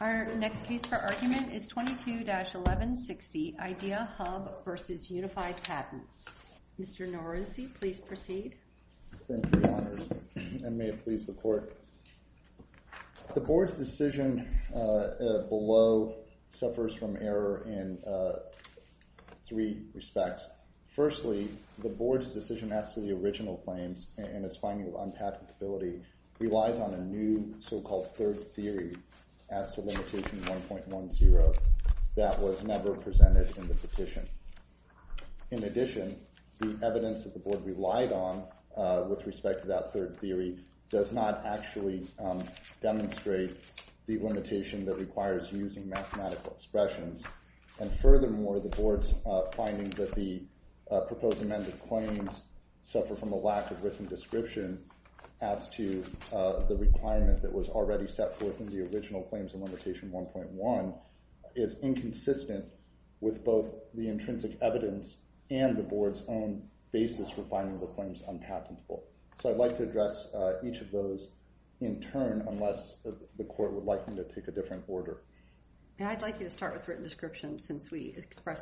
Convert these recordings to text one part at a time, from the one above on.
Our next case for argument is 22-1160 IDEAHUB v. Unified Patents. Mr. Norose, please proceed. Thank you, Your Honors, and may it please the Court. The Board's decision below suffers from error in three respects. Firstly, the Board's decision as to the original claims and its finding of unpatentability relies on a new so-called third theory as to limitation 1.10 that was never presented in the petition. In addition, the evidence that the Board relied on with respect to that third theory does not actually demonstrate the limitation that requires using mathematical expressions, and furthermore, the Board's finding that the proposed amended claims suffer from a lack of written description as to the requirement that was already set forth in the original claims and limitation 1.1 is inconsistent with both the intrinsic evidence and the Board's own basis for finding the claims unpatentable. So I'd like to address each of those in turn unless the Court would like me to pick a different order. I'd like you to start with written description since we have a written description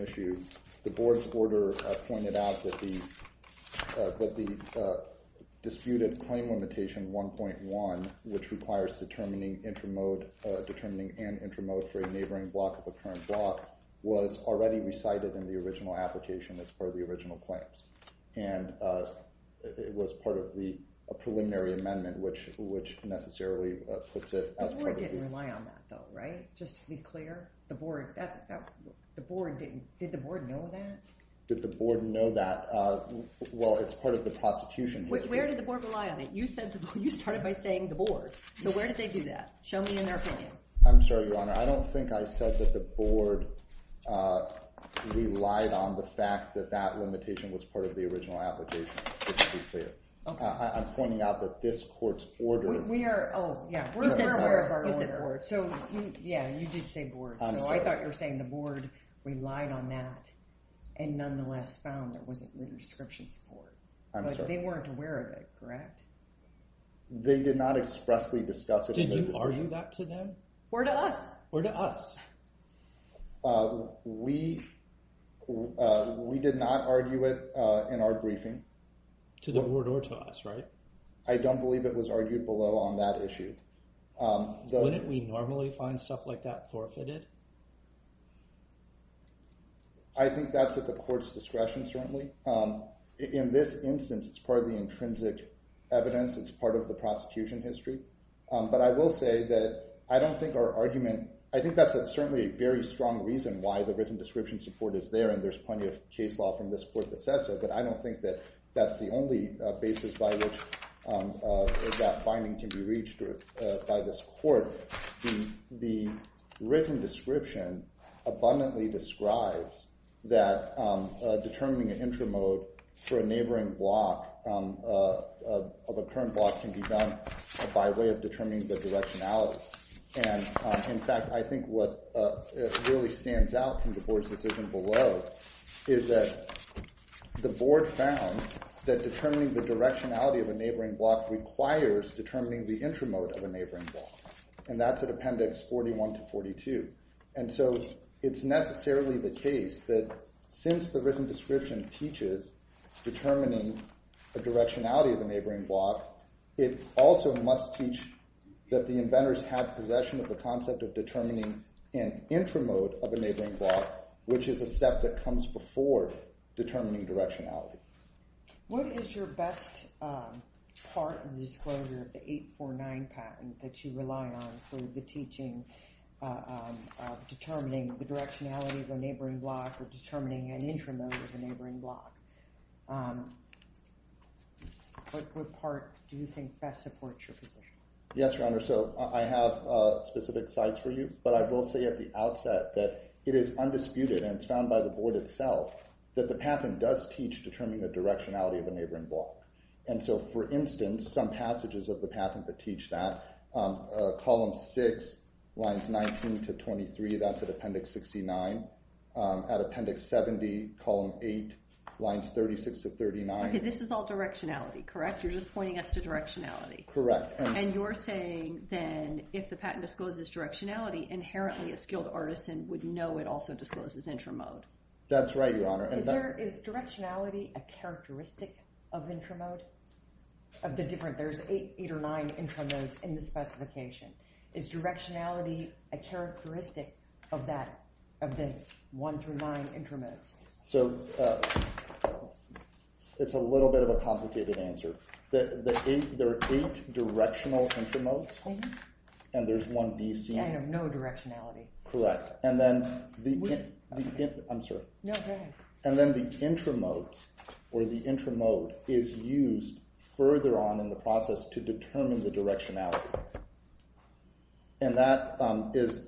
issue. The Board's order pointed out that the disputed claim limitation 1.1, which requires determining intramode, determining an intramode for a neighboring block of the current block, was already recited in the original application as part of the original claims, and it was part of the preliminary amendment, which necessarily puts it as... The Board didn't rely on that though, right? Just to be clear, the Board, that's, the Board didn't, did the Board know that? Did the Board know that? Well, it's part of the prosecution. Where did the Board rely on it? You said, you started by saying the Board, so where did they do that? Show me in their opinion. I'm sorry, Your Honor, I don't think I said that the Board relied on the fact that that limitation was part of the original application, just to be clear. I'm pointing out that this Court's order... We are, oh yeah, we're aware of the Board, so yeah, you did say Board, so I thought you were saying the Board relied on that and nonetheless found there wasn't new description support, but they weren't aware of it, correct? They did not expressly discuss it. Did you argue that to them? Or to us? Or to us? We, we did not argue it in our briefing. To the Board or to us, right? I don't believe it was wouldn't we normally find stuff like that forfeited? I think that's at the Court's discretion, certainly. In this instance, it's part of the intrinsic evidence, it's part of the prosecution history, but I will say that I don't think our argument, I think that's certainly a very strong reason why the written description support is there and there's plenty of case law from this Court that says so, but I don't think that that's the only basis by which that finding can be reached by this Court. The written description abundantly describes that determining an intramode for a neighboring block of a current block can be done by way of determining the directionality, and in fact, I think what really stands out from the board found that determining the directionality of a neighboring block requires determining the intramode of a neighboring block, and that's at Appendix 41 to 42. And so it's necessarily the case that since the written description teaches determining the directionality of a neighboring block, it also must teach that the inventors have possession of the concept of determining directionality. What is your best part of the disclosure of the 849 patent that you rely on for the teaching of determining the directionality of a neighboring block or determining an intramode of a neighboring block? What part do you think best supports your position? Yes, Your Honor, so I have specific sites for you, but I will say at the outset that it is the patent does teach determining the directionality of a neighboring block. And so, for instance, some passages of the patent that teach that, Column 6, lines 19 to 23, that's at Appendix 69. At Appendix 70, Column 8, lines 36 to 39. Okay, this is all directionality, correct? You're just pointing us to directionality. Correct. And you're saying then if the patent discloses directionality, inherently a skilled artisan would know it also discloses intramode. That's right, Your Honor. Is directionality a characteristic of intramode? Of the different, there's eight or nine intramodes in the specification. Is directionality a characteristic of that, of the one through nine intramodes? So, it's a little bit of a complicated answer. There are eight directional intramodes, and there's one DC. And of no directionality. Correct. And then the, I'm sorry. No, go ahead. And then the intramode, or the intramode is used further on in the process to determine the directionality. And that is,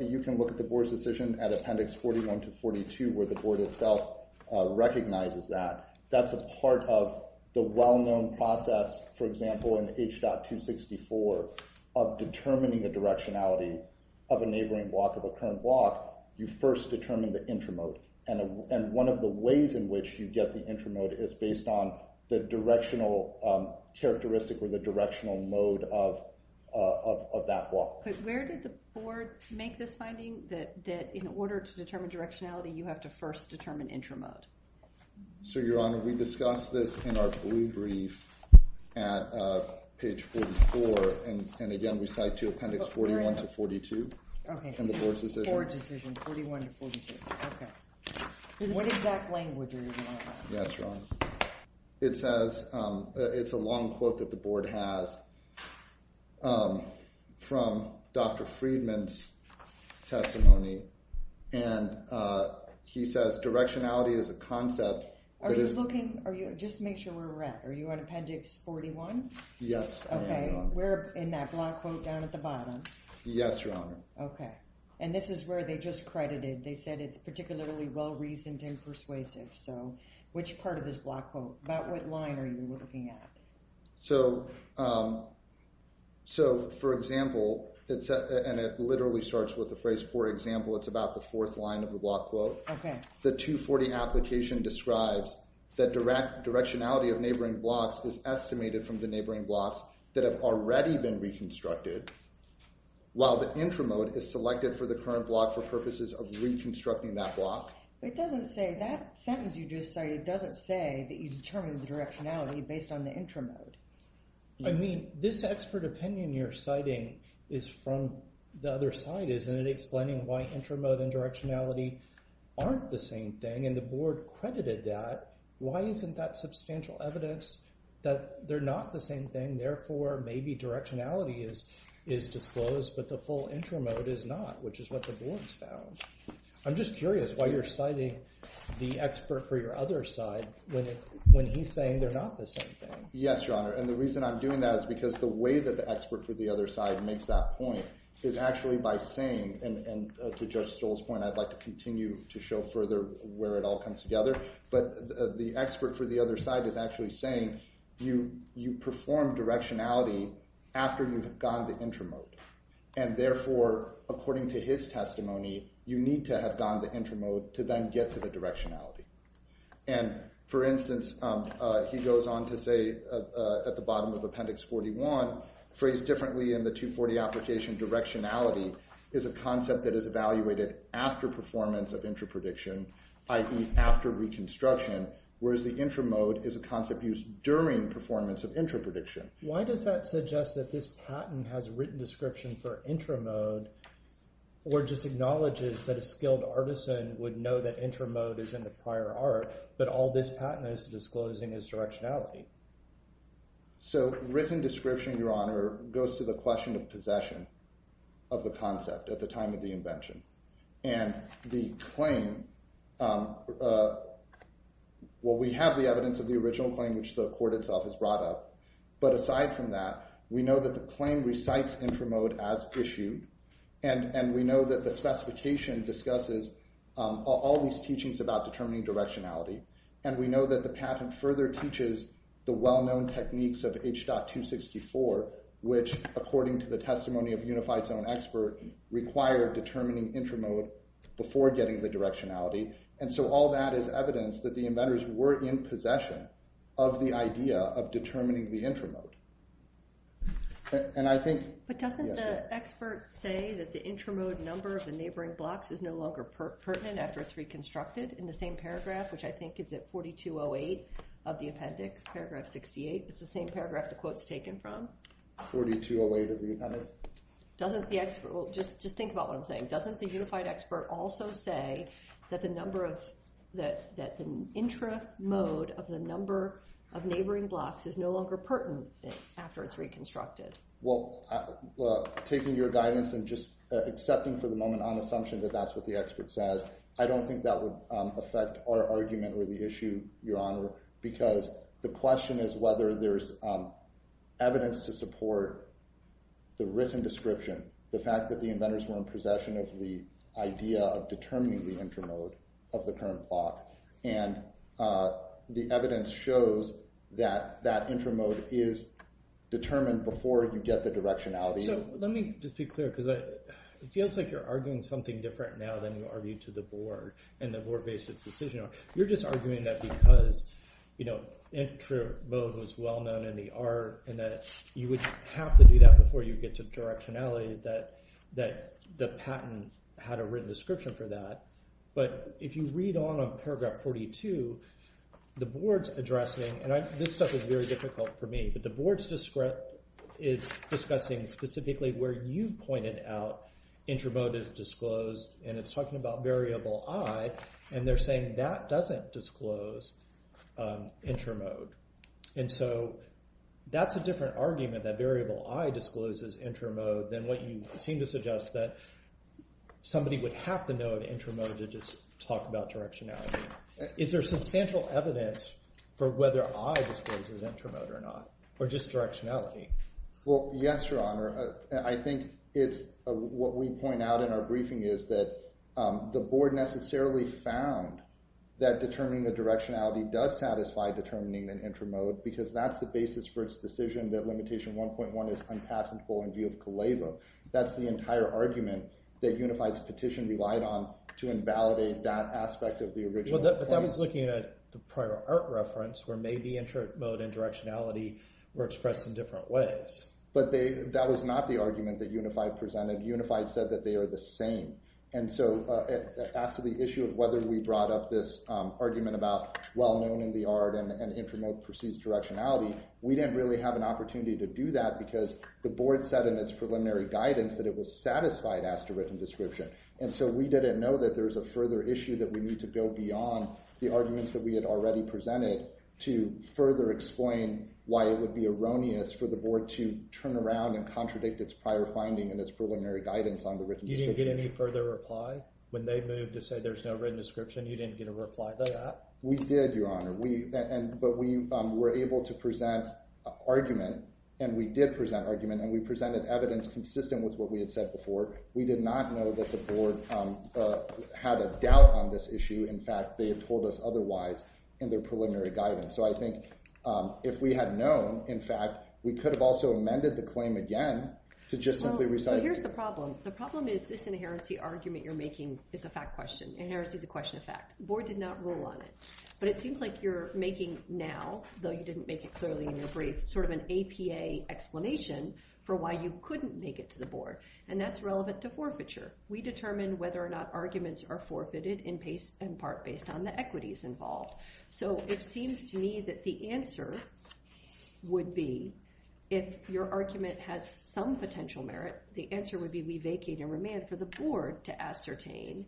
you can look at the board's decision at Appendix 41 to 42, where the board itself recognizes that. That's a part of the well-known process, for example, in H.264 of determining the directionality of a neighboring block of a current block, you first determine the intramode. And one of the ways in which you get the intramode is based on the directional characteristic or the directional mode of that block. But where did the board make this finding that in order to determine directionality, you have to first determine intramode? So, Your Honor, we discussed this in our blue brief at page 44. And again, we cite to Appendix 41 to 42 in the board's decision. Board decision, 41 to 42. Okay. What exact language are you talking about? Yes, Your Honor. It says, it's a long quote that the board has obtained from Dr. Friedman's testimony. And he says directionality is a concept. Are you looking, just make sure where we're at. Are you on Appendix 41? Yes, I am, Your Honor. Okay. We're in that block quote down at the bottom. Yes, Your Honor. Okay. And this is where they just credited. They said it's particularly well-reasoned and persuasive. So, which part of this block quote, about what line are you looking at? So, for example, and it literally starts with the phrase, for example, it's about the fourth line of the block quote. Okay. The 240 application describes that directionality of neighboring blocks is estimated from the neighboring blocks that have already been reconstructed, while the intramode is selected for the current block for purposes of reconstructing that block. It doesn't say, that sentence you just cited doesn't say that you determined the directionality based on the intramode. I mean, this expert opinion you're citing is from the other side, isn't it? Explaining why intramode and directionality aren't the same thing. And the board credited that. Why isn't that substantial evidence that they're not the same thing? Therefore, maybe directionality is disclosed, but the full intramode is not, which is what the board's found. I'm just curious why you're citing the expert for your other side when he's saying they're not the same thing. Yes, Your Honor. And the reason I'm doing that is because the way that the expert for the other side makes that point is actually by saying, and to Judge Stoll's point, I'd like to continue to show further where it all comes together. But the expert for the other side is actually saying you perform directionality after you've gone to intramode. And therefore, according to his And for instance, he goes on to say at the bottom of Appendix 41, phrased differently in the 240 application, directionality is a concept that is evaluated after performance of intraprediction, i.e. after reconstruction, whereas the intramode is a concept used during performance of intraprediction. Why does that suggest that this patent has a written description for intramode or just acknowledges that a skilled artisan would know that intramode is in the prior art, but all this patent is disclosing is directionality? So written description, Your Honor, goes to the question of possession of the concept at the time of the invention. And the claim, well, we have the evidence of the original claim, which the court itself has brought up. But aside from that, we know that the claim recites intramode as issue. And we know that the specification discusses all these teachings about determining directionality. And we know that the patent further teaches the well-known techniques of H.264, which, according to the testimony of Unified Zone Expert, required determining intramode before getting the directionality. And so all that is evidence that the inventors were in possession of the idea of the intramode. And I think- But doesn't the expert say that the intramode number of the neighboring blocks is no longer pertinent after it's reconstructed in the same paragraph, which I think is at 4208 of the appendix, paragraph 68. It's the same paragraph the quote's taken from. 4208 of the appendix? Just think about what I'm saying. Doesn't the Unified Expert also say that the intramode of the number of neighboring blocks is no longer pertinent after it's reconstructed? Well, taking your guidance and just accepting for the moment on assumption that that's what the expert says, I don't think that would affect our argument or the issue, Your Honor, because the question is whether there's evidence to support the written description, the fact that the inventors were in possession of the idea of intramode is determined before you get the directionality. So let me just be clear because it feels like you're arguing something different now than you argued to the board and the board-based decision. You're just arguing that because intramode was well-known in the art and that you would have to do that before you get to directionality that the patent had a written description for that. But if you read on on paragraph 42, the board's addressing, and this stuff is very difficult for me, but the board's is discussing specifically where you pointed out intramode is disclosed and it's talking about variable i and they're saying that doesn't disclose intramode. And so that's a different argument that variable i discloses intramode than what you seem to suggest that somebody would have to know an intramode to just talk about directionality. Is there substantial evidence for whether i discloses intramode or not or just directionality? Well, yes, Your Honor. I think it's what we point out in our briefing is that the board necessarily found that determining the directionality does satisfy determining an intramode because that's the basis for its decision that limitation 1.1 is unpatentable in view of Kaleva. That's the entire argument that Unified's petition relied on to invalidate that aspect of the original. But that was looking at the prior art reference where maybe intramode and directionality were expressed in different ways. But that was not the argument that Unified presented. Unified said that they are the same. And so as to the issue of whether we brought up this argument about well known in the art and intramode precedes directionality, we didn't really have an opportunity to do that because the board said in its preliminary guidance that it was satisfied as to written description. And so we didn't know that there's a further issue that we need to go beyond the arguments that we had already presented to further explain why it would be erroneous for the board to turn around and contradict its prior finding and its preliminary guidance on the written. You didn't get any further reply when they moved to say there's no written description? You didn't get a reply to that? We did, Your Honor. But we were able to present an argument and we did present argument and we presented evidence consistent with what we had said before. We did not know that the board had a doubt on this issue. In fact, they had told us otherwise in their preliminary guidance. So I think if we had known, in fact, we could have also amended the claim again to just simply recite... So here's the problem. The problem is this inherency argument you're making is a fact question. Inherency is a question of fact. Board did not rule on it. But it seems like you're making now, though you didn't make it explanation for why you couldn't make it to the board. And that's relevant to forfeiture. We determine whether or not arguments are forfeited in part based on the equities involved. So it seems to me that the answer would be if your argument has some potential merit, the answer would be we vacate and remand for the board to ascertain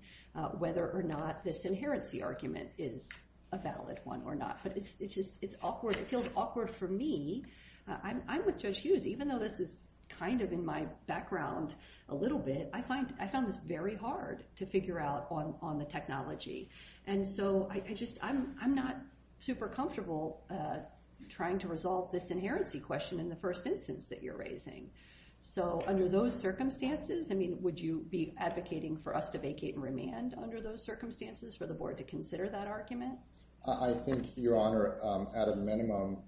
whether or not this inherency argument is a valid one or not. But it's just awkward. It feels awkward for me. I'm with Judge Hughes. Even though this is kind of in my background a little bit, I found this very hard to figure out on the technology. And so I'm not super comfortable trying to resolve this inherency question in the first instance that you're raising. So under those circumstances, I mean, would you be advocating for us to vacate and remand under those circumstances for the board to consider that argument? I think, Your Honor, at a minimum,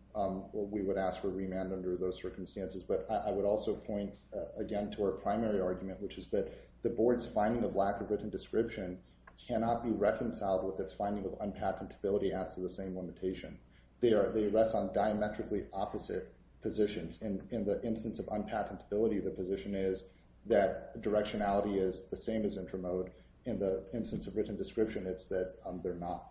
we would ask for remand under those circumstances. But I would also point again to our primary argument, which is that the board's finding of lack of written description cannot be reconciled with its finding of unpatentability as to the same limitation. They rest on diametrically opposite positions. In the instance of unpatentability, the position is that directionality is the same as intramode. In the instance of written description, it's that they're not.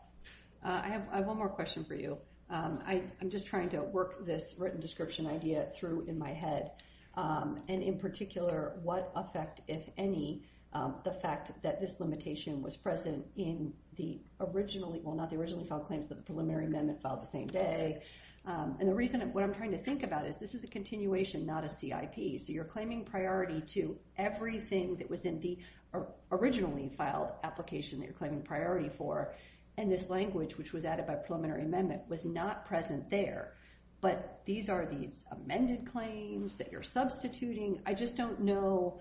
I have one more question for you. I'm just trying to work this written description idea through in my head. And in particular, what effect, if any, the fact that this limitation was present in the originally, well, not the originally filed claims, but the preliminary amendment filed the same day. And the reason, what I'm trying to think about is this is a continuation, not a CIP. So you're claiming priority to everything that was in the originally filed application that you're claiming priority for. And this language, which was added by preliminary amendment, was not present there. But these are these amended claims that you're substituting. I just don't know,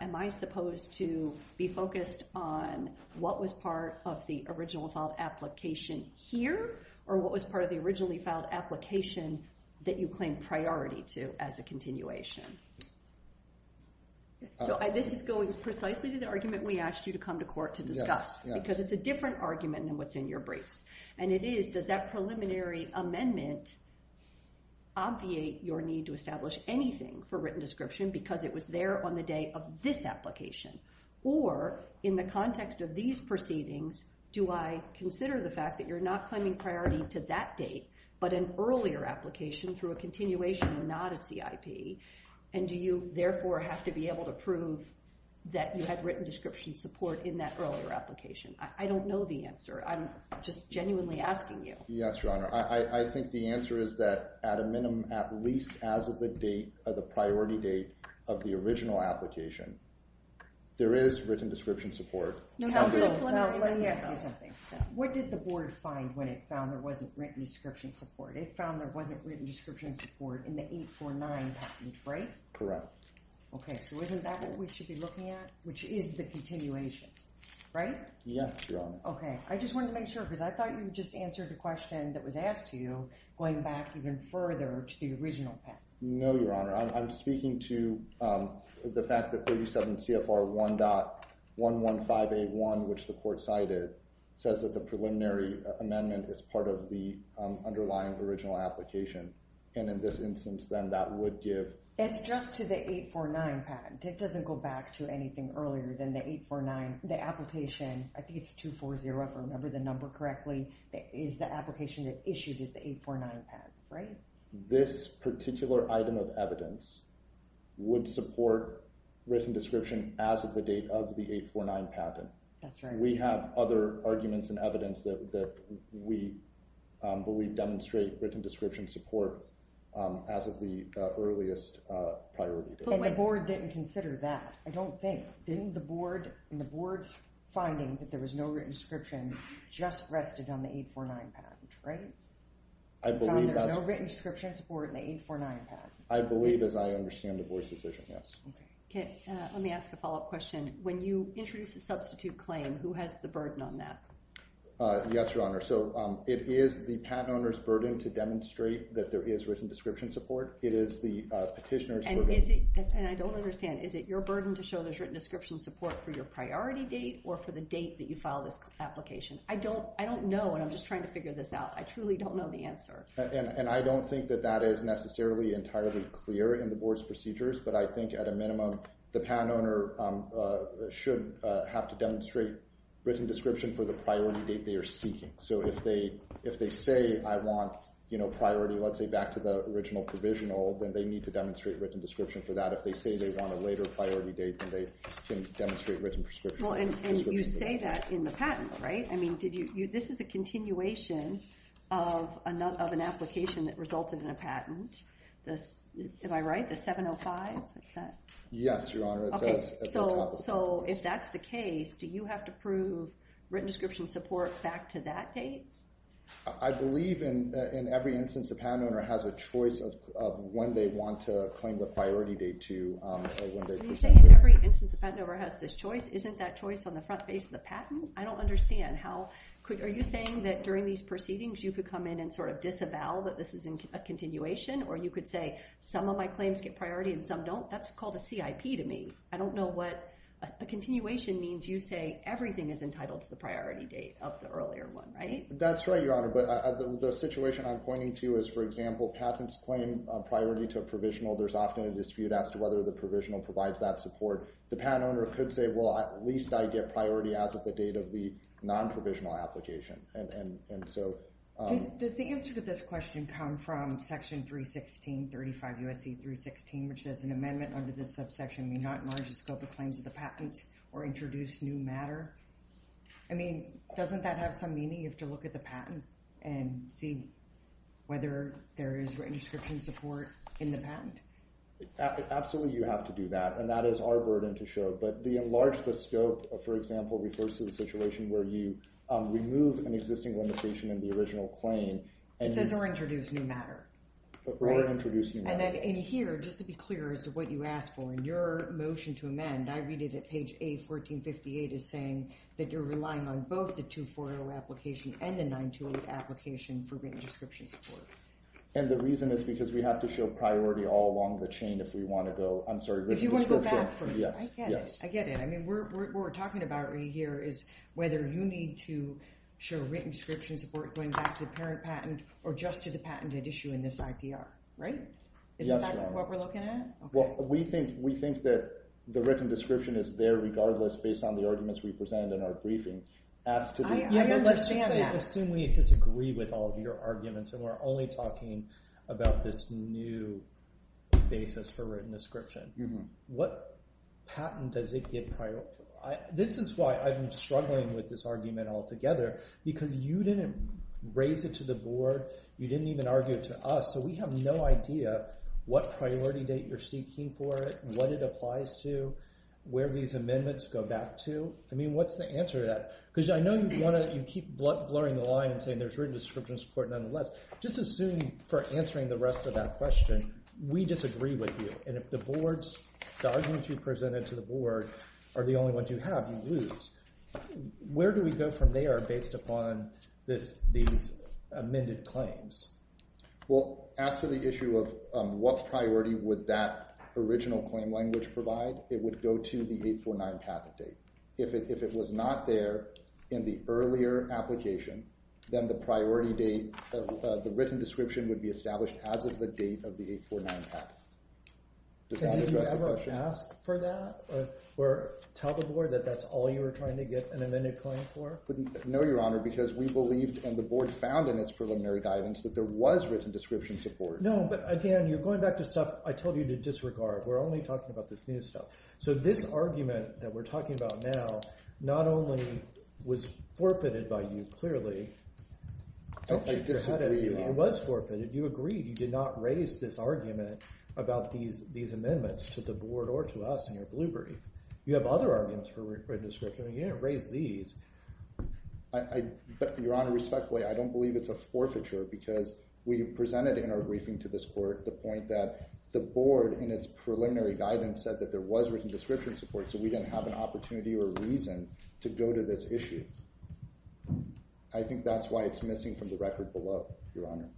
am I supposed to be focused on what was part of the original filed application here or what was part of the originally filed application that you claim priority to as a continuation? So this is going precisely to the argument we asked you to come to court to discuss, because it's a different argument than what's in your briefs. And it is, does that preliminary amendment obviate your need to establish anything for written description because it was there on the day of this application? Or in the context of these proceedings, do I consider the fact that you're not claiming priority to that date, but an earlier application through a continuation and not CIP? And do you therefore have to be able to prove that you had written description support in that earlier application? I don't know the answer. I'm just genuinely asking you. Yes, your honor. I think the answer is that at a minimum, at least as of the date of the priority date of the original application, there is written description support. What did the board find when it found there wasn't written description support? It found there wasn't written description support in the 849 package, right? Correct. Okay, so isn't that what we should be looking at, which is the continuation, right? Yes, your honor. Okay, I just wanted to make sure, because I thought you just answered the question that was asked to you, going back even further to the original patent. No, your honor. I'm speaking to the fact that 37 CFR 1.115A1, which the court cited, says that the in this instance, then that would give... It's just to the 849 patent. It doesn't go back to anything earlier than the 849. The application, I think it's 240, if I remember the number correctly, is the application that issued is the 849 patent, right? This particular item of evidence would support written description as of the date of the 849 patent. That's right. We have other arguments and evidence that we believe demonstrate written description support as of the earliest priority date. But the board didn't consider that, I don't think. Didn't the board, in the board's finding that there was no written description, just rested on the 849 package, right? I believe that's... There's no written description support in the 849 package. I believe, as I understand the board's decision, yes. Okay, let me ask a follow-up question. When you introduce a substitute claim, who has the burden on that? Yes, Your Honor. So it is the patent owner's burden to demonstrate that there is written description support. It is the petitioner's burden... And I don't understand. Is it your burden to show there's written description support for your priority date or for the date that you file this application? I don't know and I'm just trying to figure this out. I truly don't know the answer. And I don't think that that is necessarily entirely clear in the board's procedures, but I think at a written description for the priority date they are seeking. So if they say I want, you know, priority, let's say back to the original provisional, then they need to demonstrate written description for that. If they say they want a later priority date, then they can demonstrate written prescription. Well, and you say that in the patent, right? I mean, did you... This is a continuation of an application that resulted in a patent. Am I right? The 705? Yes, Your Honor. So if that's the case, do you have to prove written description support back to that date? I believe in every instance the patent owner has a choice of when they want to claim the priority date to. Are you saying that every instance the patent owner has this choice isn't that choice on the front face of the patent? I don't understand. How could... Are you saying that during these proceedings you could come in and sort of disavow that this is in a continuation or you could say some of my claims get priority and some don't? That's called a CIP to me. I don't know what a continuation means. You say everything is entitled to the priority date of the earlier one, right? That's right, Your Honor. But the situation I'm pointing to is, for example, patents claim priority to a provisional. There's often a dispute as to whether the provisional provides that support. The patent owner could say, well, at least I get priority as of the date of the non-provisional application. And so... Does the answer to this question come from Section 316, 35 U.S.C. 316, which says an amendment under this subsection may not enlarge the scope of claims of the patent or introduce new matter? I mean, doesn't that have some meaning? You have to look at the patent and see whether there is written description support in the patent. Absolutely, you have to do that. And that is our burden to show. But the enlarge the scope, for example, refers to the situation where you remove an existing limitation in the original claim. It says or introduce new matter. Or introduce new matter. And then in here, just to be clear as to what you asked for in your motion to amend, I read it at page A1458 is saying that you're relying on both the 240 application and the 920 application for written description support. And the reason is because we have to show priority all along the chain if we want to go, I'm sorry, written description. If you want to go back from it. Yes, yes. I get it. I mean, what we're talking about right here is whether you need to show written description support going back to the parent patent or just to the patented issue in this IPR, right? Isn't that what we're looking at? Well, we think that the written description is there regardless based on the arguments we present in our briefing. Assume we disagree with all of your arguments and we're only talking about this new basis for written description. What patent does it give priority? This is why I've been struggling with this argument altogether. Because you didn't raise it to the board. You didn't even argue it to us. So we have no idea what priority date you're seeking for it. What it applies to. Where these amendments go back to. I mean, what's the answer to that? Because I know you keep blurring the line and saying there's written description support nonetheless. Just assume for answering the rest of that question, we disagree with you. If the arguments you presented to the board are the only ones you have, you lose. Where do we go from there based upon these amended claims? Well, as to the issue of what priority would that original claim language provide, it would go to the 849 patent date. If it was not there in the earlier application, then the priority date, the written description would be established as of the date of the 849 patent. Did you ever ask for that or tell the board that that's all you were trying to get an amended claim for? No, Your Honor, because we believed and the board found in its preliminary guidance that there was written description support. No, but again, you're going back to stuff I told you to disregard. We're only talking about this new stuff. So this argument that we're talking about now, not only was forfeited by you, clearly, it was forfeited. You agreed. You did not raise this argument about these amendments to the board or to us in your blueberry. You have other arguments for written description. You didn't raise these. Your Honor, respectfully, I don't believe it's a forfeiture because we presented in our briefing to this court the point that the board in its preliminary guidance said that there was written description support, so we didn't have an opportunity or reason to go to this issue. I think that's why it's missing from the record below, Your Honor.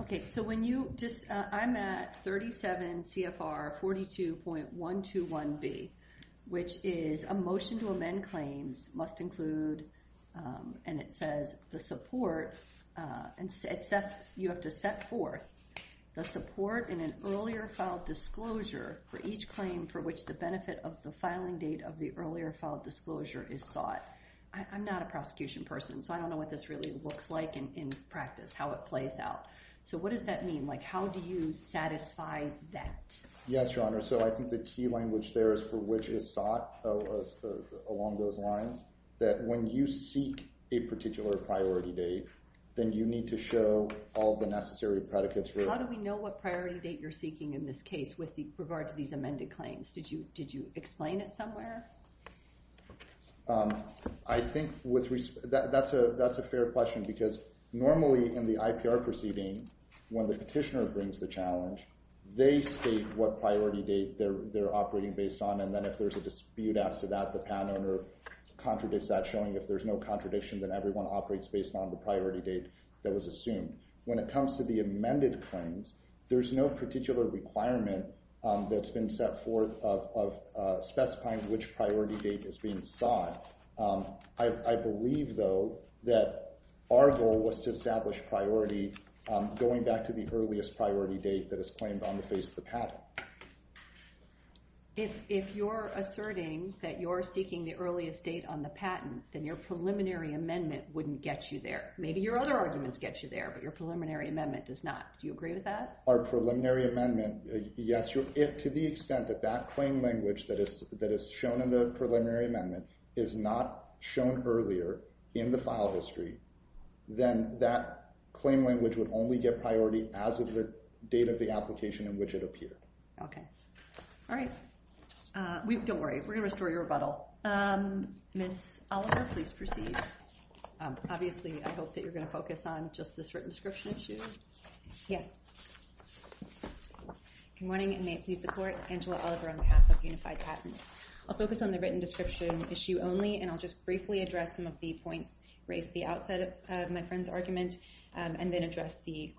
Okay, so when you just, I'm at 37 CFR 42.121B, which is a motion to amend claims must include, and it says the support, and Seth, you have to set forth the support in an earlier filed disclosure for each claim for which the benefit of the filing date of the earlier filed disclosure is sought. I'm not a prosecution person, so I don't know what this really looks like in practice, how it plays out. So what does that mean? How do you satisfy that? Yes, Your Honor. So I think the key language there is for which is sought along those lines, that when you seek a particular priority date, then you need to show all the necessary predicates. How do we know what priority date you're seeking in this case with regard to these amended claims? Did you explain it somewhere? I think that's a fair question because normally in the IPR proceeding, when the petitioner brings the challenge, they state what priority date they're operating based on, and then if there's a dispute as to that, the PAN owner contradicts that, showing if there's no contradiction, then everyone operates based on the priority date that was assumed. When it comes to the amended claims, there's no particular requirement that's been set forth of specifying which priority date is being sought. I believe, though, that our goal was to establish priority going back to the earliest priority date that is claimed on the face of the patent. If you're asserting that you're seeking the earliest date on the patent, then your preliminary amendment wouldn't get you there. Maybe your other arguments get you there, but your preliminary amendment does not. Do you agree with that? Our preliminary amendment, yes, to the extent that that claim language that is shown in the preliminary amendment is not shown earlier in the file history, then that claim language would only get priority as of the date of the application in which it appeared. Okay. All right. Don't worry. We're going to please proceed. Obviously, I hope that you're going to focus on just this written description issue. Yes. Good morning, and may it please the Court. Angela Oliver on behalf of Unified Patents. I'll focus on the written description issue only, and I'll just briefly address some of the points raised at the outset of my friend's argument, and then address the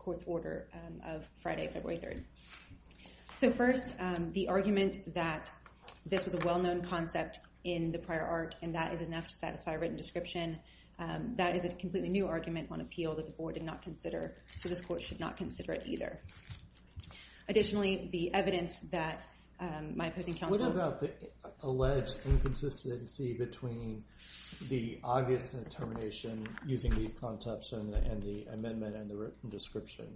Court's order of Friday, February 3rd. So first, the argument that this was a well-known concept in the prior art and that is enough to satisfy a written description. That is a completely new argument on appeal that the Board did not consider, so this Court should not consider it either. Additionally, the evidence that my opposing counsel... What about the alleged inconsistency between the obvious determination using these concepts and the amendment and the written description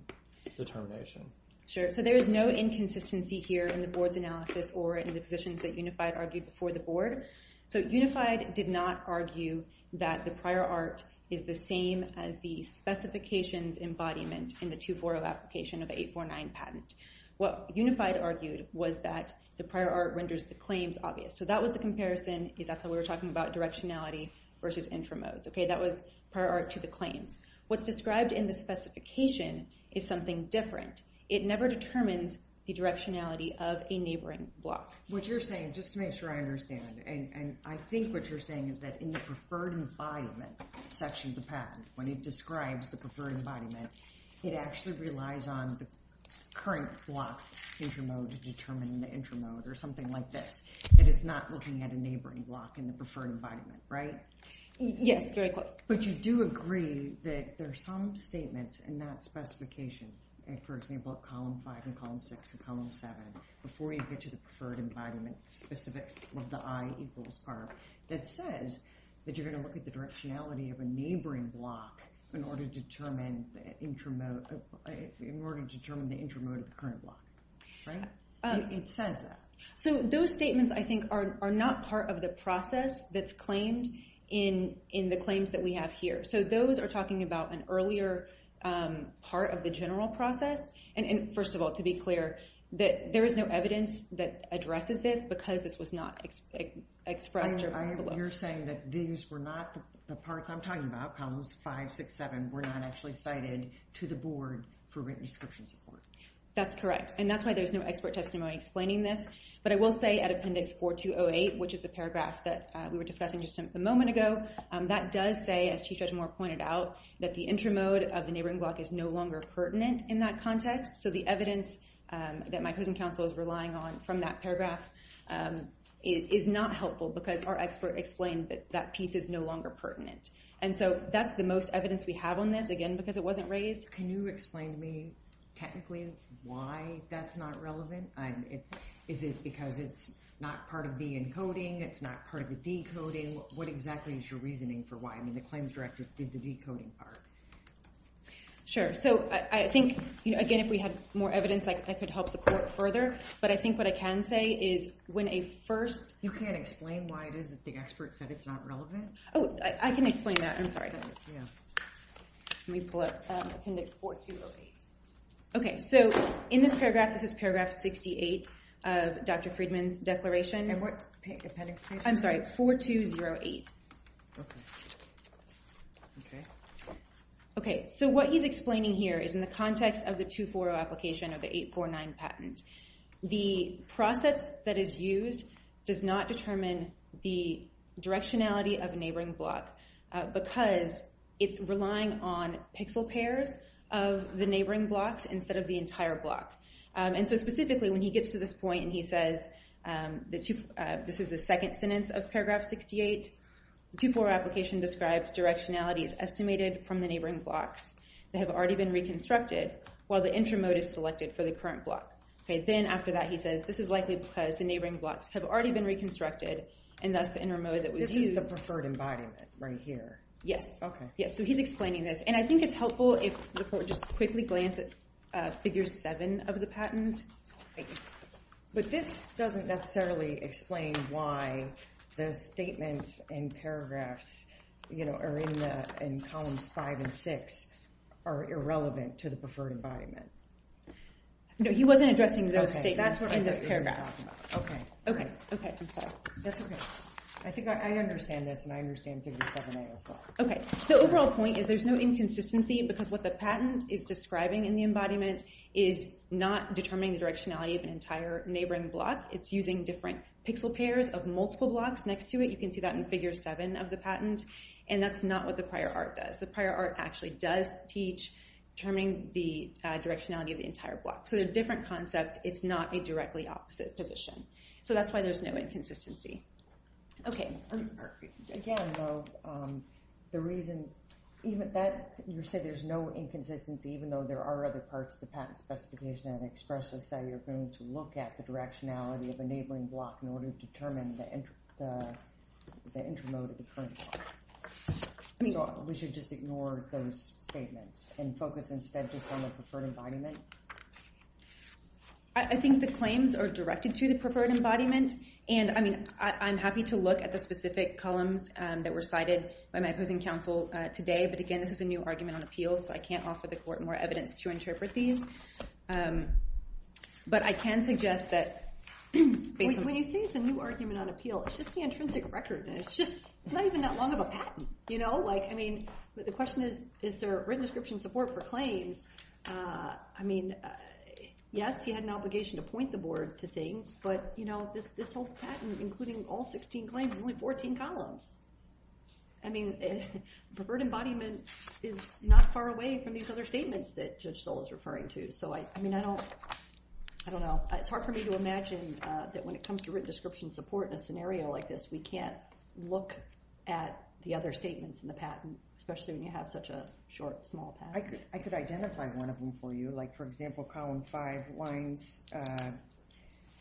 determination? Sure. So there is no inconsistency here in the Board's analysis or in the positions that Unified argued before the Board. So Unified did not argue that the prior art is the same as the specifications embodiment in the 240 application of 849 patent. What Unified argued was that the prior art renders the claims obvious. So that was the comparison. That's how we were talking about directionality versus intramodes. That was prior art to the claims. What's described in the specification is something different. It never determines the directionality of a neighboring block. What you're saying, just to make sure I understand, and I think what you're saying is that in the preferred embodiment section of the patent, when it describes the preferred embodiment, it actually relies on the current block's intramode to determine the intramode or something like this. It is not looking at a neighboring block in the preferred embodiment, right? Yes, very close. But you do agree that there are some statements in that specification, for example, at column 5 and column 6 and column 7, before you get to the preferred embodiment, specifics of the I equals part, that says that you're going to look at the directionality of a neighboring block in order to determine the intramode of the current block, right? It says that. So those statements, I think, are not part of the process that's claimed in the claims that have here. So those are talking about an earlier part of the general process. And first of all, to be clear, that there is no evidence that addresses this because this was not expressed. You're saying that these were not the parts I'm talking about, columns 5, 6, 7, were not actually cited to the board for written description support. That's correct. And that's why there's no expert testimony explaining this. But I will say at appendix 4208, which is the paragraph that we were discussing just a moment ago, that does say, as Chief Judge Moore pointed out, that the intramode of the neighboring block is no longer pertinent in that context. So the evidence that my prison counsel is relying on from that paragraph is not helpful because our expert explained that that piece is no longer pertinent. And so that's the most evidence we have on this, again, because it wasn't raised. Can you explain to me technically why that's not relevant? Is it because it's not part of the encoding? It's not part of the decoding? What exactly is your reasoning for why? I mean, the claims directive did the decoding part. Sure. So I think, again, if we had more evidence, I could help the court further. But I think what I can say is when a first- You can't explain why it is that the expert said it's not relevant? Oh, I can explain that. I'm sorry. Let me pull up appendix 4208. Okay. So in this paragraph, this is paragraph 68 of Dr. Friedman's declaration. And what appendix page? I'm sorry. 4208. Okay. Okay. Okay. So what he's explaining here is in the context of the 240 application of the 849 patent. The process that is used does not determine the directionality of a neighboring block because it's relying on pixel pairs of the neighboring blocks instead of the neighboring blocks. And so specifically, when he gets to this point and he says, this is the second sentence of paragraph 68, the 240 application describes directionality is estimated from the neighboring blocks that have already been reconstructed while the intramode is selected for the current block. Okay. Then after that, he says, this is likely because the neighboring blocks have already been reconstructed and thus the intramode that was used- This is the preferred embodiment right here. Yes. Okay. Yes. So he's explaining this. And I think it's helpful if the court just quickly glance at figure seven of the patent. But this doesn't necessarily explain why the statements and paragraphs are in columns five and six are irrelevant to the preferred embodiment. No, he wasn't addressing those statements in this paragraph. Okay. Okay. Okay. I'm sorry. That's okay. I think I understand this and I understand figure seven as well. Okay. The overall point is there's no inconsistency because what the embodiment is describing is not determining the directionality of an entire neighboring block. It's using different pixel pairs of multiple blocks next to it. You can see that in figure seven of the patent. And that's not what the prior art does. The prior art actually does teach determining the directionality of the entire block. So they're different concepts. It's not a directly opposite position. So that's why there's no inconsistency. Okay. Again, though, you said there's no inconsistency even though there are other parts of the patent specification that express this that you're going to look at the directionality of a neighboring block in order to determine the intermode of the current block. So we should just ignore those statements and focus instead just on the preferred embodiment? I think the claims are directed to the preferred embodiment. And I mean, I'm happy to look at the specific columns that were cited by my opposing counsel today. But again, this is a new argument on appeal. So I can't offer the court more evidence to interpret these. But I can suggest that... When you say it's a new argument on appeal, it's just the intrinsic record. It's just it's not even that long of a patent. I mean, the question is, is there written description support for claims? I mean, yes, he had an obligation to point the board to things, but this whole patent, including all 16 claims, is only 14 columns. I mean, preferred embodiment is not far away from these other statements that Judge Stoll is referring to. So I mean, I don't know. It's hard for me to imagine that when it comes to written description support in a scenario like this, we can't look at the other statements in the patent, especially when you have such a short, small patent. I could identify one of them for you. For example, column five lines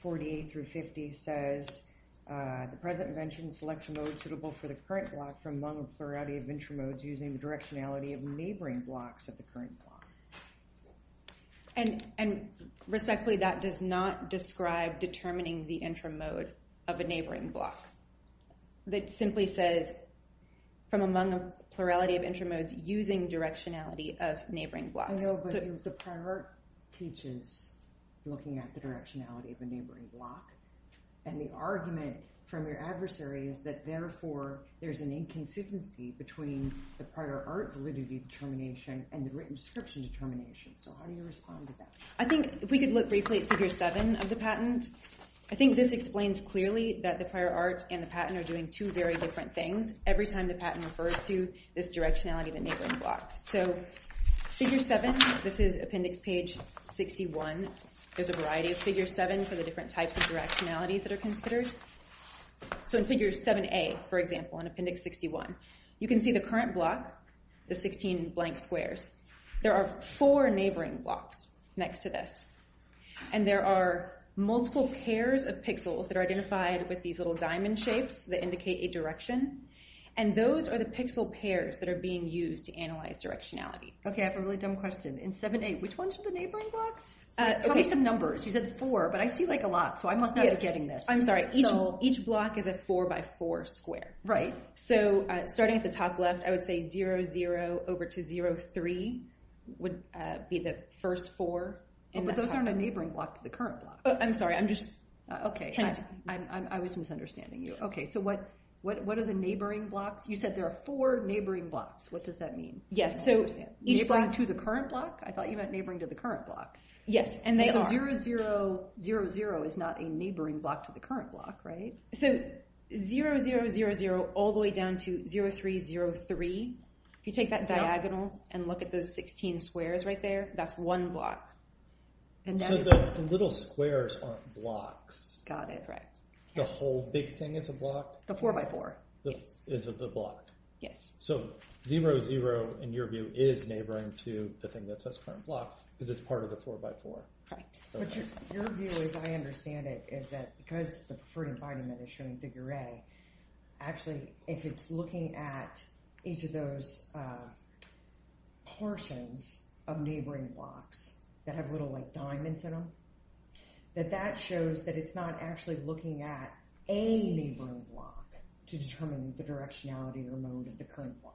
48 through 50 says, the president mentioned selection mode suitable for the current block from among a plurality of intramodes using the directionality of neighboring blocks of the current block. And respectfully, that does not describe determining the intramode of a neighboring block. That simply says, from among a plurality of intramodes using directionality of neighboring blocks. I know, but the prior art teaches looking at the directionality of a neighboring block. And the argument from your adversary is that, therefore, there's an inconsistency between the prior art validity determination and the written description determination. So how do you respond to that? I think if we could look briefly at figure seven of the patent, I think this explains clearly that the prior art and the patent are doing two very different things every time the patent refers to this directionality of the neighboring block. So figure seven, this is appendix page 61. There's a variety of figure seven for the different types of directionalities that are considered. So in figure 7a, for example, in appendix 61, you can see the current block, the 16 blank squares. There are four neighboring blocks next to this. And there are multiple pairs of pixels that are identified with these little directions. And those are the pixel pairs that are being used to analyze directionality. Okay, I have a really dumb question. In 7a, which ones are the neighboring blocks? Tell me some numbers. You said four, but I see like a lot, so I must not be getting this. I'm sorry. Each block is a four by four square. Right. So starting at the top left, I would say 0, 0 over to 0, 3 would be the first four. Oh, but those aren't a neighboring block to the current block. Oh, I'm sorry. I'm just trying to... What are the neighboring blocks? You said there are four neighboring blocks. What does that mean? Yes, so each... Neighboring to the current block? I thought you meant neighboring to the current block. Yes, and they are. So 0, 0, 0, 0 is not a neighboring block to the current block, right? So 0, 0, 0, 0 all the way down to 0, 3, 0, 3. If you take that diagonal and look at those 16 squares right there, that's one block. So the little squares aren't blocks. Got it, right. The whole big thing is a block. The four by four, yes. Is it the block? Yes. So 0, 0, in your view, is neighboring to the thing that says current block because it's part of the four by four. Right. But your view, as I understand it, is that because the Preferred Embodiment is showing figure A, actually, if it's looking at each of those portions of neighboring blocks that have little diamonds in them, that that shows that it's not actually looking at any neighboring block to determine the directionality or mode of the current block.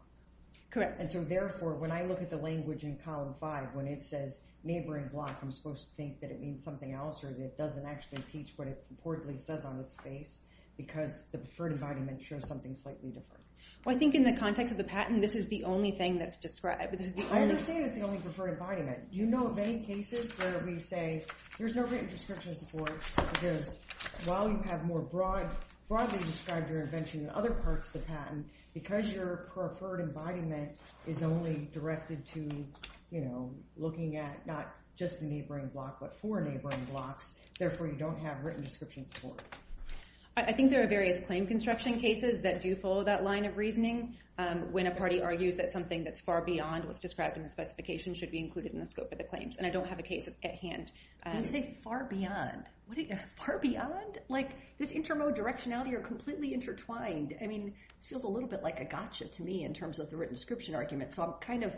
Correct. And so therefore, when I look at the language in column five, when it says neighboring block, I'm supposed to think that it means something else or that it doesn't actually teach what it reportedly says on its face because the Preferred Embodiment shows something slightly different. Well, I think in the context of the patent, this is the only thing that's described. I understand it's the only Preferred Embodiment. You know of any cases where we say there's no written description of support because while you have more broadly described your invention in other parts of the patent, because your Preferred Embodiment is only directed to looking at not just the neighboring block, but four neighboring blocks, therefore, you don't have written description support. I think there are various claim construction cases that do follow that line of reasoning. When a party argues that something that's far beyond what's described in the specification should be included in the scope of the claims. And I don't have a case at hand. When you say far beyond, what do you mean far beyond? Like this intermode directionality are completely intertwined. I mean, this feels a little bit like a gotcha to me in terms of the written description argument. So I'm kind of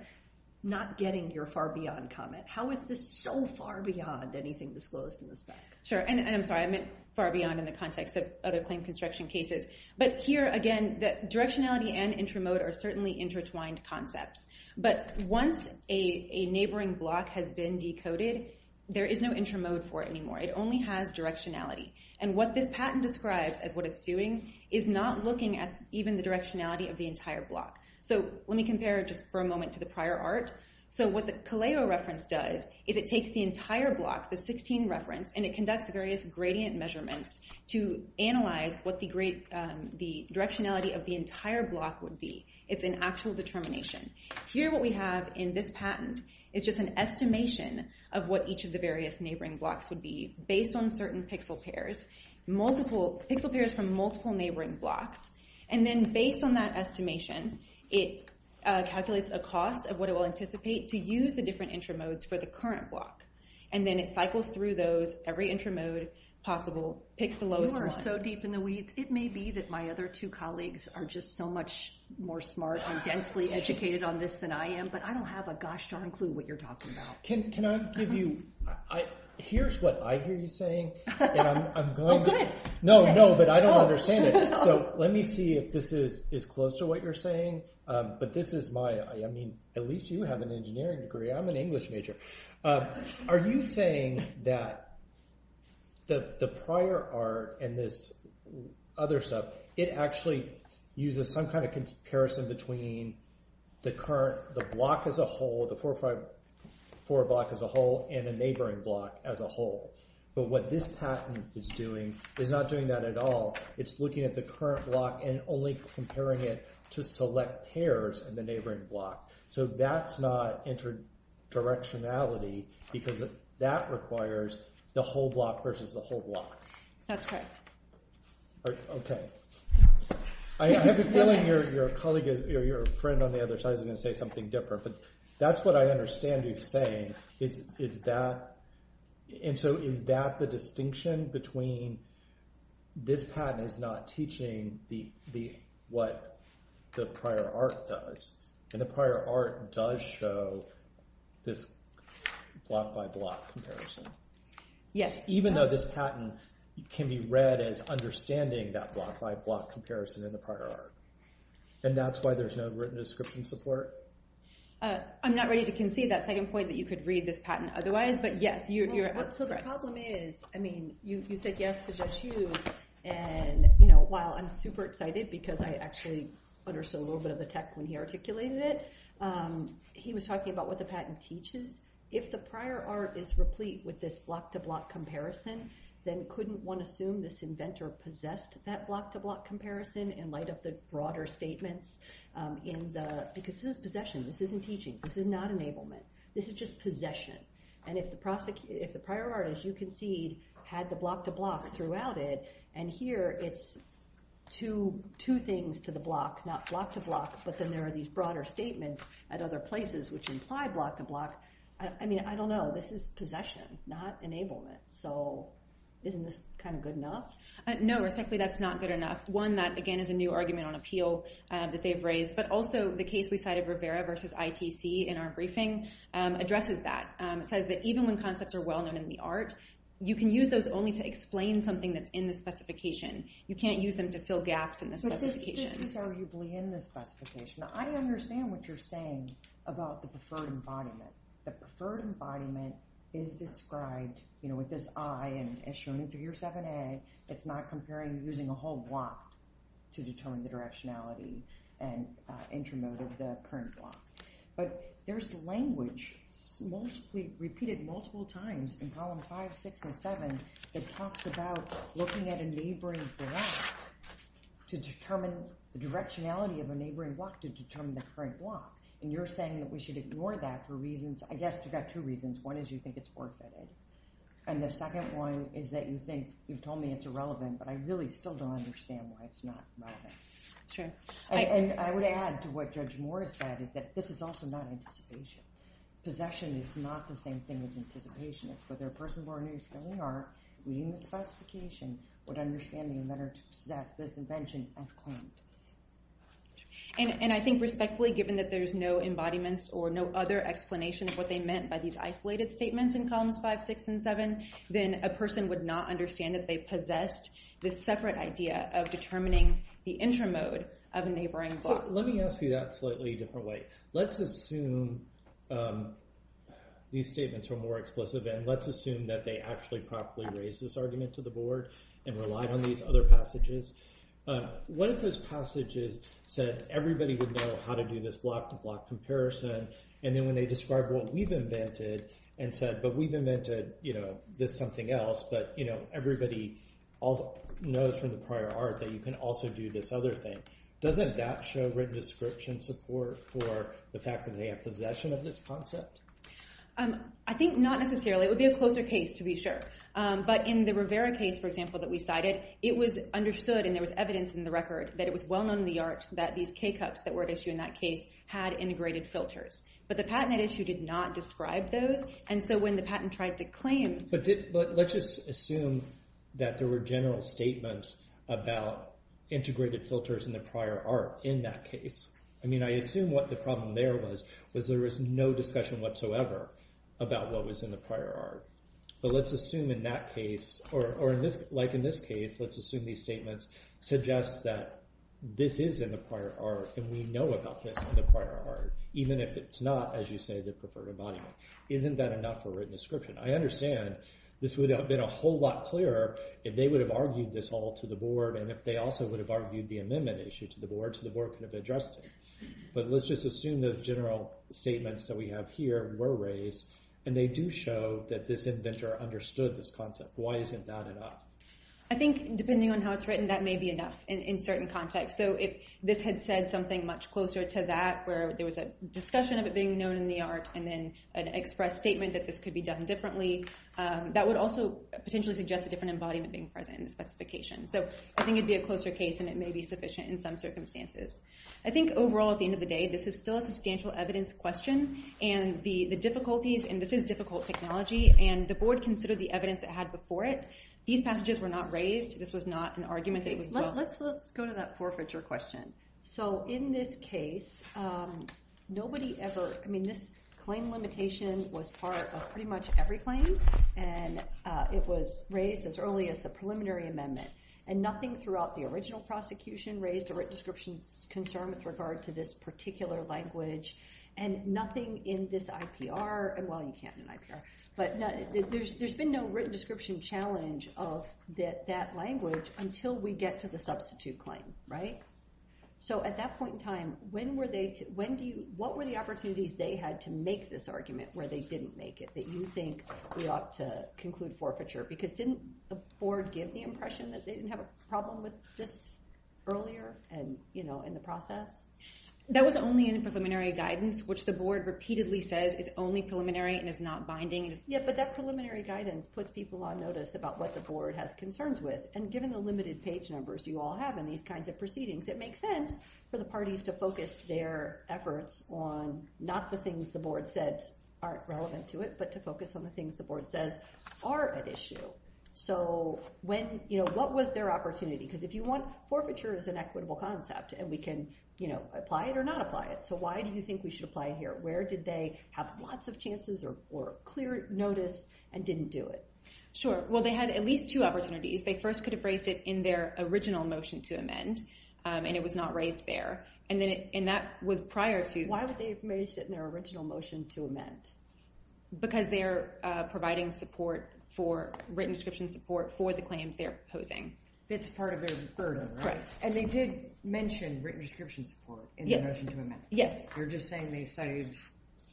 not getting your far beyond comment. How is this so far beyond anything disclosed in the spec? Sure. And I'm sorry, I meant far beyond in the context of other claim construction cases. But here again, that directionality and intramode are certainly intertwined concepts. But once a neighboring block has been decoded, there is no intramode for it anymore. It only has directionality. And what this patent describes as what it's doing is not looking at even the directionality of the entire block. So let me compare just for a moment to the prior art. So what the Caleo reference does is it takes the entire block, the 16 reference, and it conducts various gradient measurements to analyze what the directionality of the entire block would be. It's an actual determination. Here what we have in this patent is just an estimation of what each of the various neighboring blocks would be based on certain pixel pairs, multiple pixel pairs from multiple neighboring blocks. And then based on that estimation, it calculates a cost of what it will anticipate to use the different intramodes for the current block. And then it cycles through those, every intramode possible picks the lowest one. You are so deep in the weeds. It may be that my other two colleagues are just so much more smart and densely educated on this than I am, but I don't have a gosh darn clue what you're talking about. Can I give you, here's what I hear you saying. Oh good. No, no, but I don't understand it. So let me see if this is close to what you're saying. But this is my, I mean, at least you have an engineering degree. I'm an English major. Are you saying that the prior art and this other stuff, it actually uses some kind of comparison between the current, the block as a whole, the 454 block as a whole and a neighboring block as a whole. But what this patent is doing is not doing that at all. It's looking at the current block and only comparing it to select pairs in the neighboring block. So that's not interdirectionality because that requires the whole block versus the whole block. That's correct. All right. Okay. I have a feeling your colleague or your friend on the other side is going to say something different, but that's what I understand you saying is that, and so is that the distinction between this patent is not teaching what the prior art does. And the prior art does show this block by block comparison. Yes. Even though this patent can be read as understanding that block by block comparison in the prior art. And that's why there's no written description support. I'm not ready to concede that second point that you could read this patent otherwise, but yes, you're correct. So the problem is, I mean, you said yes to Judge Hughes, and while I'm super excited because I actually understood a little bit of the tech when he articulated it, he was talking about what the patent teaches. If the prior art is replete with this block to block comparison, then couldn't one assume this inventor possessed that block to block comparison and light up the broader statements in the, because this is possession. This isn't teaching. This is not enablement. This is just possession. And if the prior art, as you concede, had the block to block throughout it, and here it's two things to the block, not block to block, but then there are these broader statements at other places which imply block to block, I mean, I don't know. This is possession, not enablement. So isn't this kind of good enough? No, respectfully, that's not good enough. One, that, again, is a new argument on appeal that they've raised. But also the case we cited, Rivera versus ITC, in our briefing addresses that. It says that even when concepts are well known in the art, you can use those only to explain something that's in the specification. You can't use them to fill gaps in the specification. But this is arguably in the specification. Now, I understand what you're saying about the preferred embodiment. The preferred embodiment is described, you know, with this I, and as shown in 307A, it's not comparing using a whole block to determine the directionality and intermode of the current block. But there's language repeatedly repeated multiple times in column five, six, and seven that talks about looking at a neighboring block to determine the directionality of a neighboring block to determine the current block. And you're saying that we should ignore that for reasons, I guess you've got two reasons. One is you think it's forfeited. And the second one is that you think, you've told me it's irrelevant, but I really still don't understand why it's not relevant. Sure. And I would add to what Judge Morris said, is that this is also not anticipation. Possession is not the same thing as anticipation. It's whether a person born who's filling art, reading the specification, would understand the inventor to possess this invention as claimed. And, and I think respectfully, given that there's no embodiments or no other explanation of what they meant by these isolated statements in columns five, six, and seven, then a person would not understand that they possessed this separate idea of determining the intermode of a neighboring block. Let me ask you that slightly different way. Let's assume these statements are more explicit and let's assume that they actually properly raised this argument to the board and relied on these other passages. But what if those passages said everybody would know how to do this block to block comparison. And then when they describe what we've invented and said, but we've invented, you know, this something else, but you know, everybody knows from the prior art that you can also do this other thing. Doesn't that show written description support for the fact that they have possession of this concept? I think not necessarily. It would be a closer case to be sure. But in the Rivera case, for example, that we cited, it was understood, and there was evidence in the record that it was well known in the art that these K-cups that were at issue in that case had integrated filters, but the patent at issue did not describe those. And so when the patent tried to claim. But did, but let's just assume that there were general statements about integrated filters in the prior art in that case. I mean, I assume what the problem there was, was there was no discussion whatsoever about what was in the prior art. But let's assume in that case, or in this, like in this case, let's assume these statements suggest that this is in the prior art, and we know about this in the prior art, even if it's not, as you say, the preferred embodiment. Isn't that enough for written description? I understand this would have been a whole lot clearer if they would have argued this all to the board, and if they also would have argued the amendment issue to the board, so the board could have addressed it. But let's just assume the general statements that we have here were raised, and they do show that this inventor understood this concept. Why isn't that enough? I think depending on how it's written, that may be enough in certain contexts. So if this had said something much closer to that, where there was a discussion of it being known in the art, and then an express statement that this could be done differently, that would also potentially suggest a different embodiment being present in the specification. So I think it'd be a closer case, and it may be sufficient in some circumstances. I think overall, at the end of the day, this is still a substantial evidence question. And the difficulties, and this is difficult technology, and the board considered the evidence it had before it. These passages were not raised. This was not an argument that it was well. Let's go to that forfeiture question. So in this case, nobody ever, I mean, this claim limitation was part of pretty much every claim, and it was raised as early as the preliminary amendment. And nothing throughout the original prosecution raised a written description concern with regard to this particular language. And nothing in this IPR, and well, you can't in IPR. But there's been no written description challenge of that language until we get to the substitute claim, right? So at that point in time, what were the opportunities they had to make this argument where they didn't make it, that you think we ought to conclude forfeiture? Because didn't the board give the impression that they didn't have a problem with this earlier, and in the process? That was only in preliminary guidance, which the board repeatedly says is only preliminary and is not binding. Yeah, but that preliminary guidance puts people on notice about what the board has concerns with. And given the limited page numbers you all have in these kinds of proceedings, it makes sense for the parties to focus their efforts on not the things the board says aren't relevant to it, but to focus on the things the board says are at issue. So when, you know, what was their opportunity? Because if you want, forfeiture is an equitable concept, and we can, you know, apply it or not apply it. So why do you think we should apply it here? Where did they have lots of chances or clear notice and didn't do it? Sure. Well, they had at least two opportunities. They first could have raised it in their original motion to amend, and it was not raised there. And that was prior to- Why would they have raised it in their original motion to amend? Because they're providing support for written description support for the claims they're opposing. That's part of their burden, right? Correct. And they did mention written description support in their motion to amend. Yes. You're just saying they cited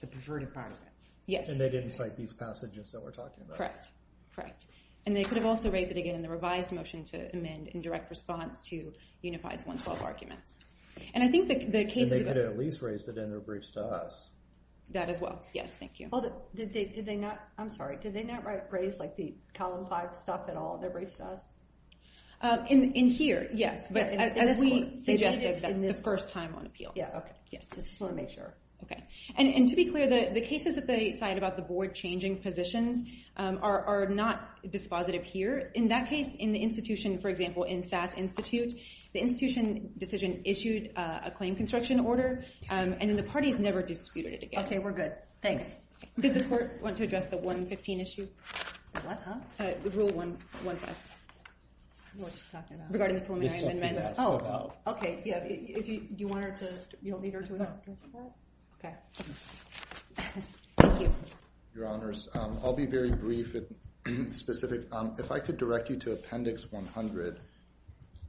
the preferred part of it. Yes. And they didn't cite these passages that we're talking about. Correct. Correct. And they could have also raised it again in the revised motion to amend in direct response to Unified's 112 arguments. And I think the case- And they could have at least raised it in their briefs to us. That as well. Yes. Thank you. Well, did they not- I'm sorry. Did they not raise, like, the column five stuff at all in their briefs to us? In here, yes. But as we suggested, that's the first time on appeal. Yeah, okay. Yes. I just want to make sure. Okay. And to be clear, the cases that they cite about the board changing positions are not dispositive here. In that case, in the institution, for example, in SAS Institute, the institution decision issued a claim construction order, and then the parties never disputed it again. Okay, we're good. Thanks. Did the court want to address the 115 issue? What, huh? Rule 115. What she's talking about. Regarding the preliminary amendments. Oh, okay. Yeah, do you want her to- you don't need her to address that? No. Okay. Thank you. Your Honors, I'll be very brief and specific. If I could direct you to Appendix 100,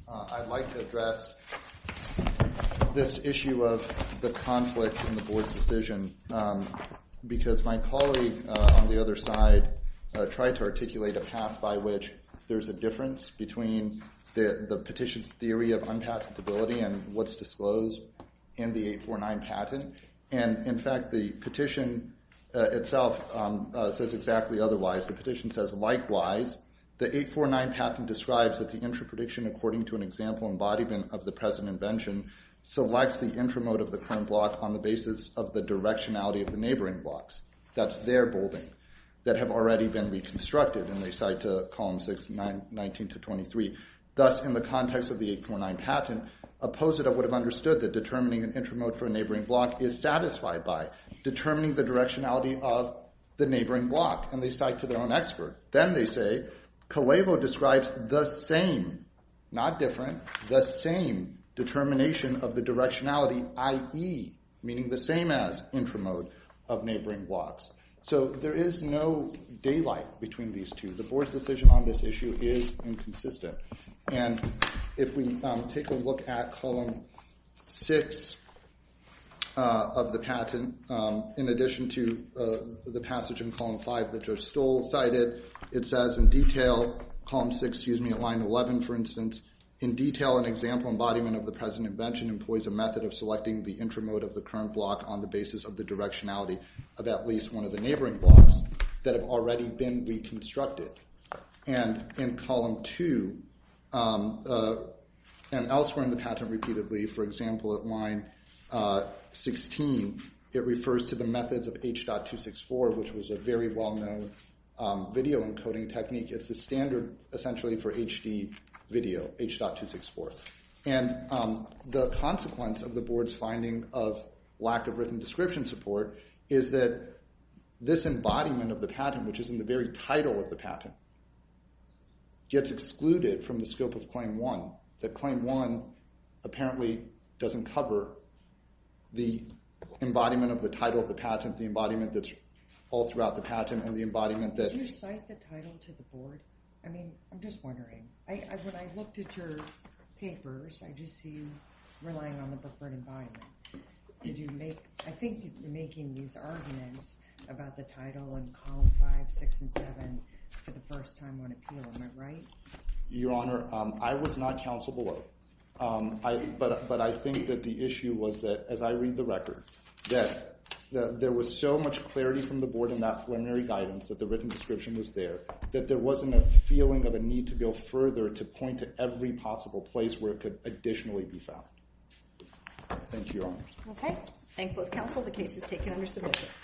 I'd like to address this issue of the conflict in the board's decision, because my colleague on the other side tried to articulate a path by which there's a difference between the petition's theory of unpatentability and what's disclosed in the 849 patent. And in fact, the petition itself says exactly otherwise. The petition says, likewise, the 849 patent describes that the intra-prediction, according to an example embodiment of the present invention, selects the intramode of the current block on the basis of the directionality of the neighboring blocks. That's their building that have already been reconstructed. And they cite to Columns 6, 9, 19 to 23. Thus, in the context of the 849 patent, opposed it, I would have understood that determining an intramode for a neighboring block is satisfied by determining the directionality of the neighboring block. And they cite to their own expert. Then they say, Kalevo describes the same, not different, the same determination of the So there is no daylight between these two. The board's decision on this issue is inconsistent. And if we take a look at Column 6 of the patent, in addition to the passage in Column 5 that Joe Stoll cited, it says in detail, Column 6, excuse me, at line 11, for instance, in detail, an example embodiment of the present invention employs a method of selecting the one of the neighboring blocks that have already been reconstructed. And in Column 2, and elsewhere in the patent repeatedly, for example, at line 16, it refers to the methods of H.264, which was a very well-known video encoding technique. It's the standard, essentially, for HD video, H.264. And the consequence of the board's finding of lack of written description support is that this embodiment of the patent, which is in the very title of the patent, gets excluded from the scope of Claim 1. That Claim 1 apparently doesn't cover the embodiment of the title of the patent, the embodiment that's all throughout the patent, and the embodiment that- Did you cite the title to the board? I mean, I'm just wondering. When I looked at your papers, I do see you relying on the book for an embodiment. Did you make- I think you're making these arguments about the title in Column 5, 6, and 7 for the first time on appeal. Am I right? Your Honor, I was not counsel below. But I think that the issue was that, as I read the record, that there was so much clarity from the board in that preliminary guidance that the written description was there, that there wasn't a feeling of a need to go further to point to every possible place where it could additionally be found. Thank you, Your Honor. Okay. Thank both counsel. The case is taken under submission.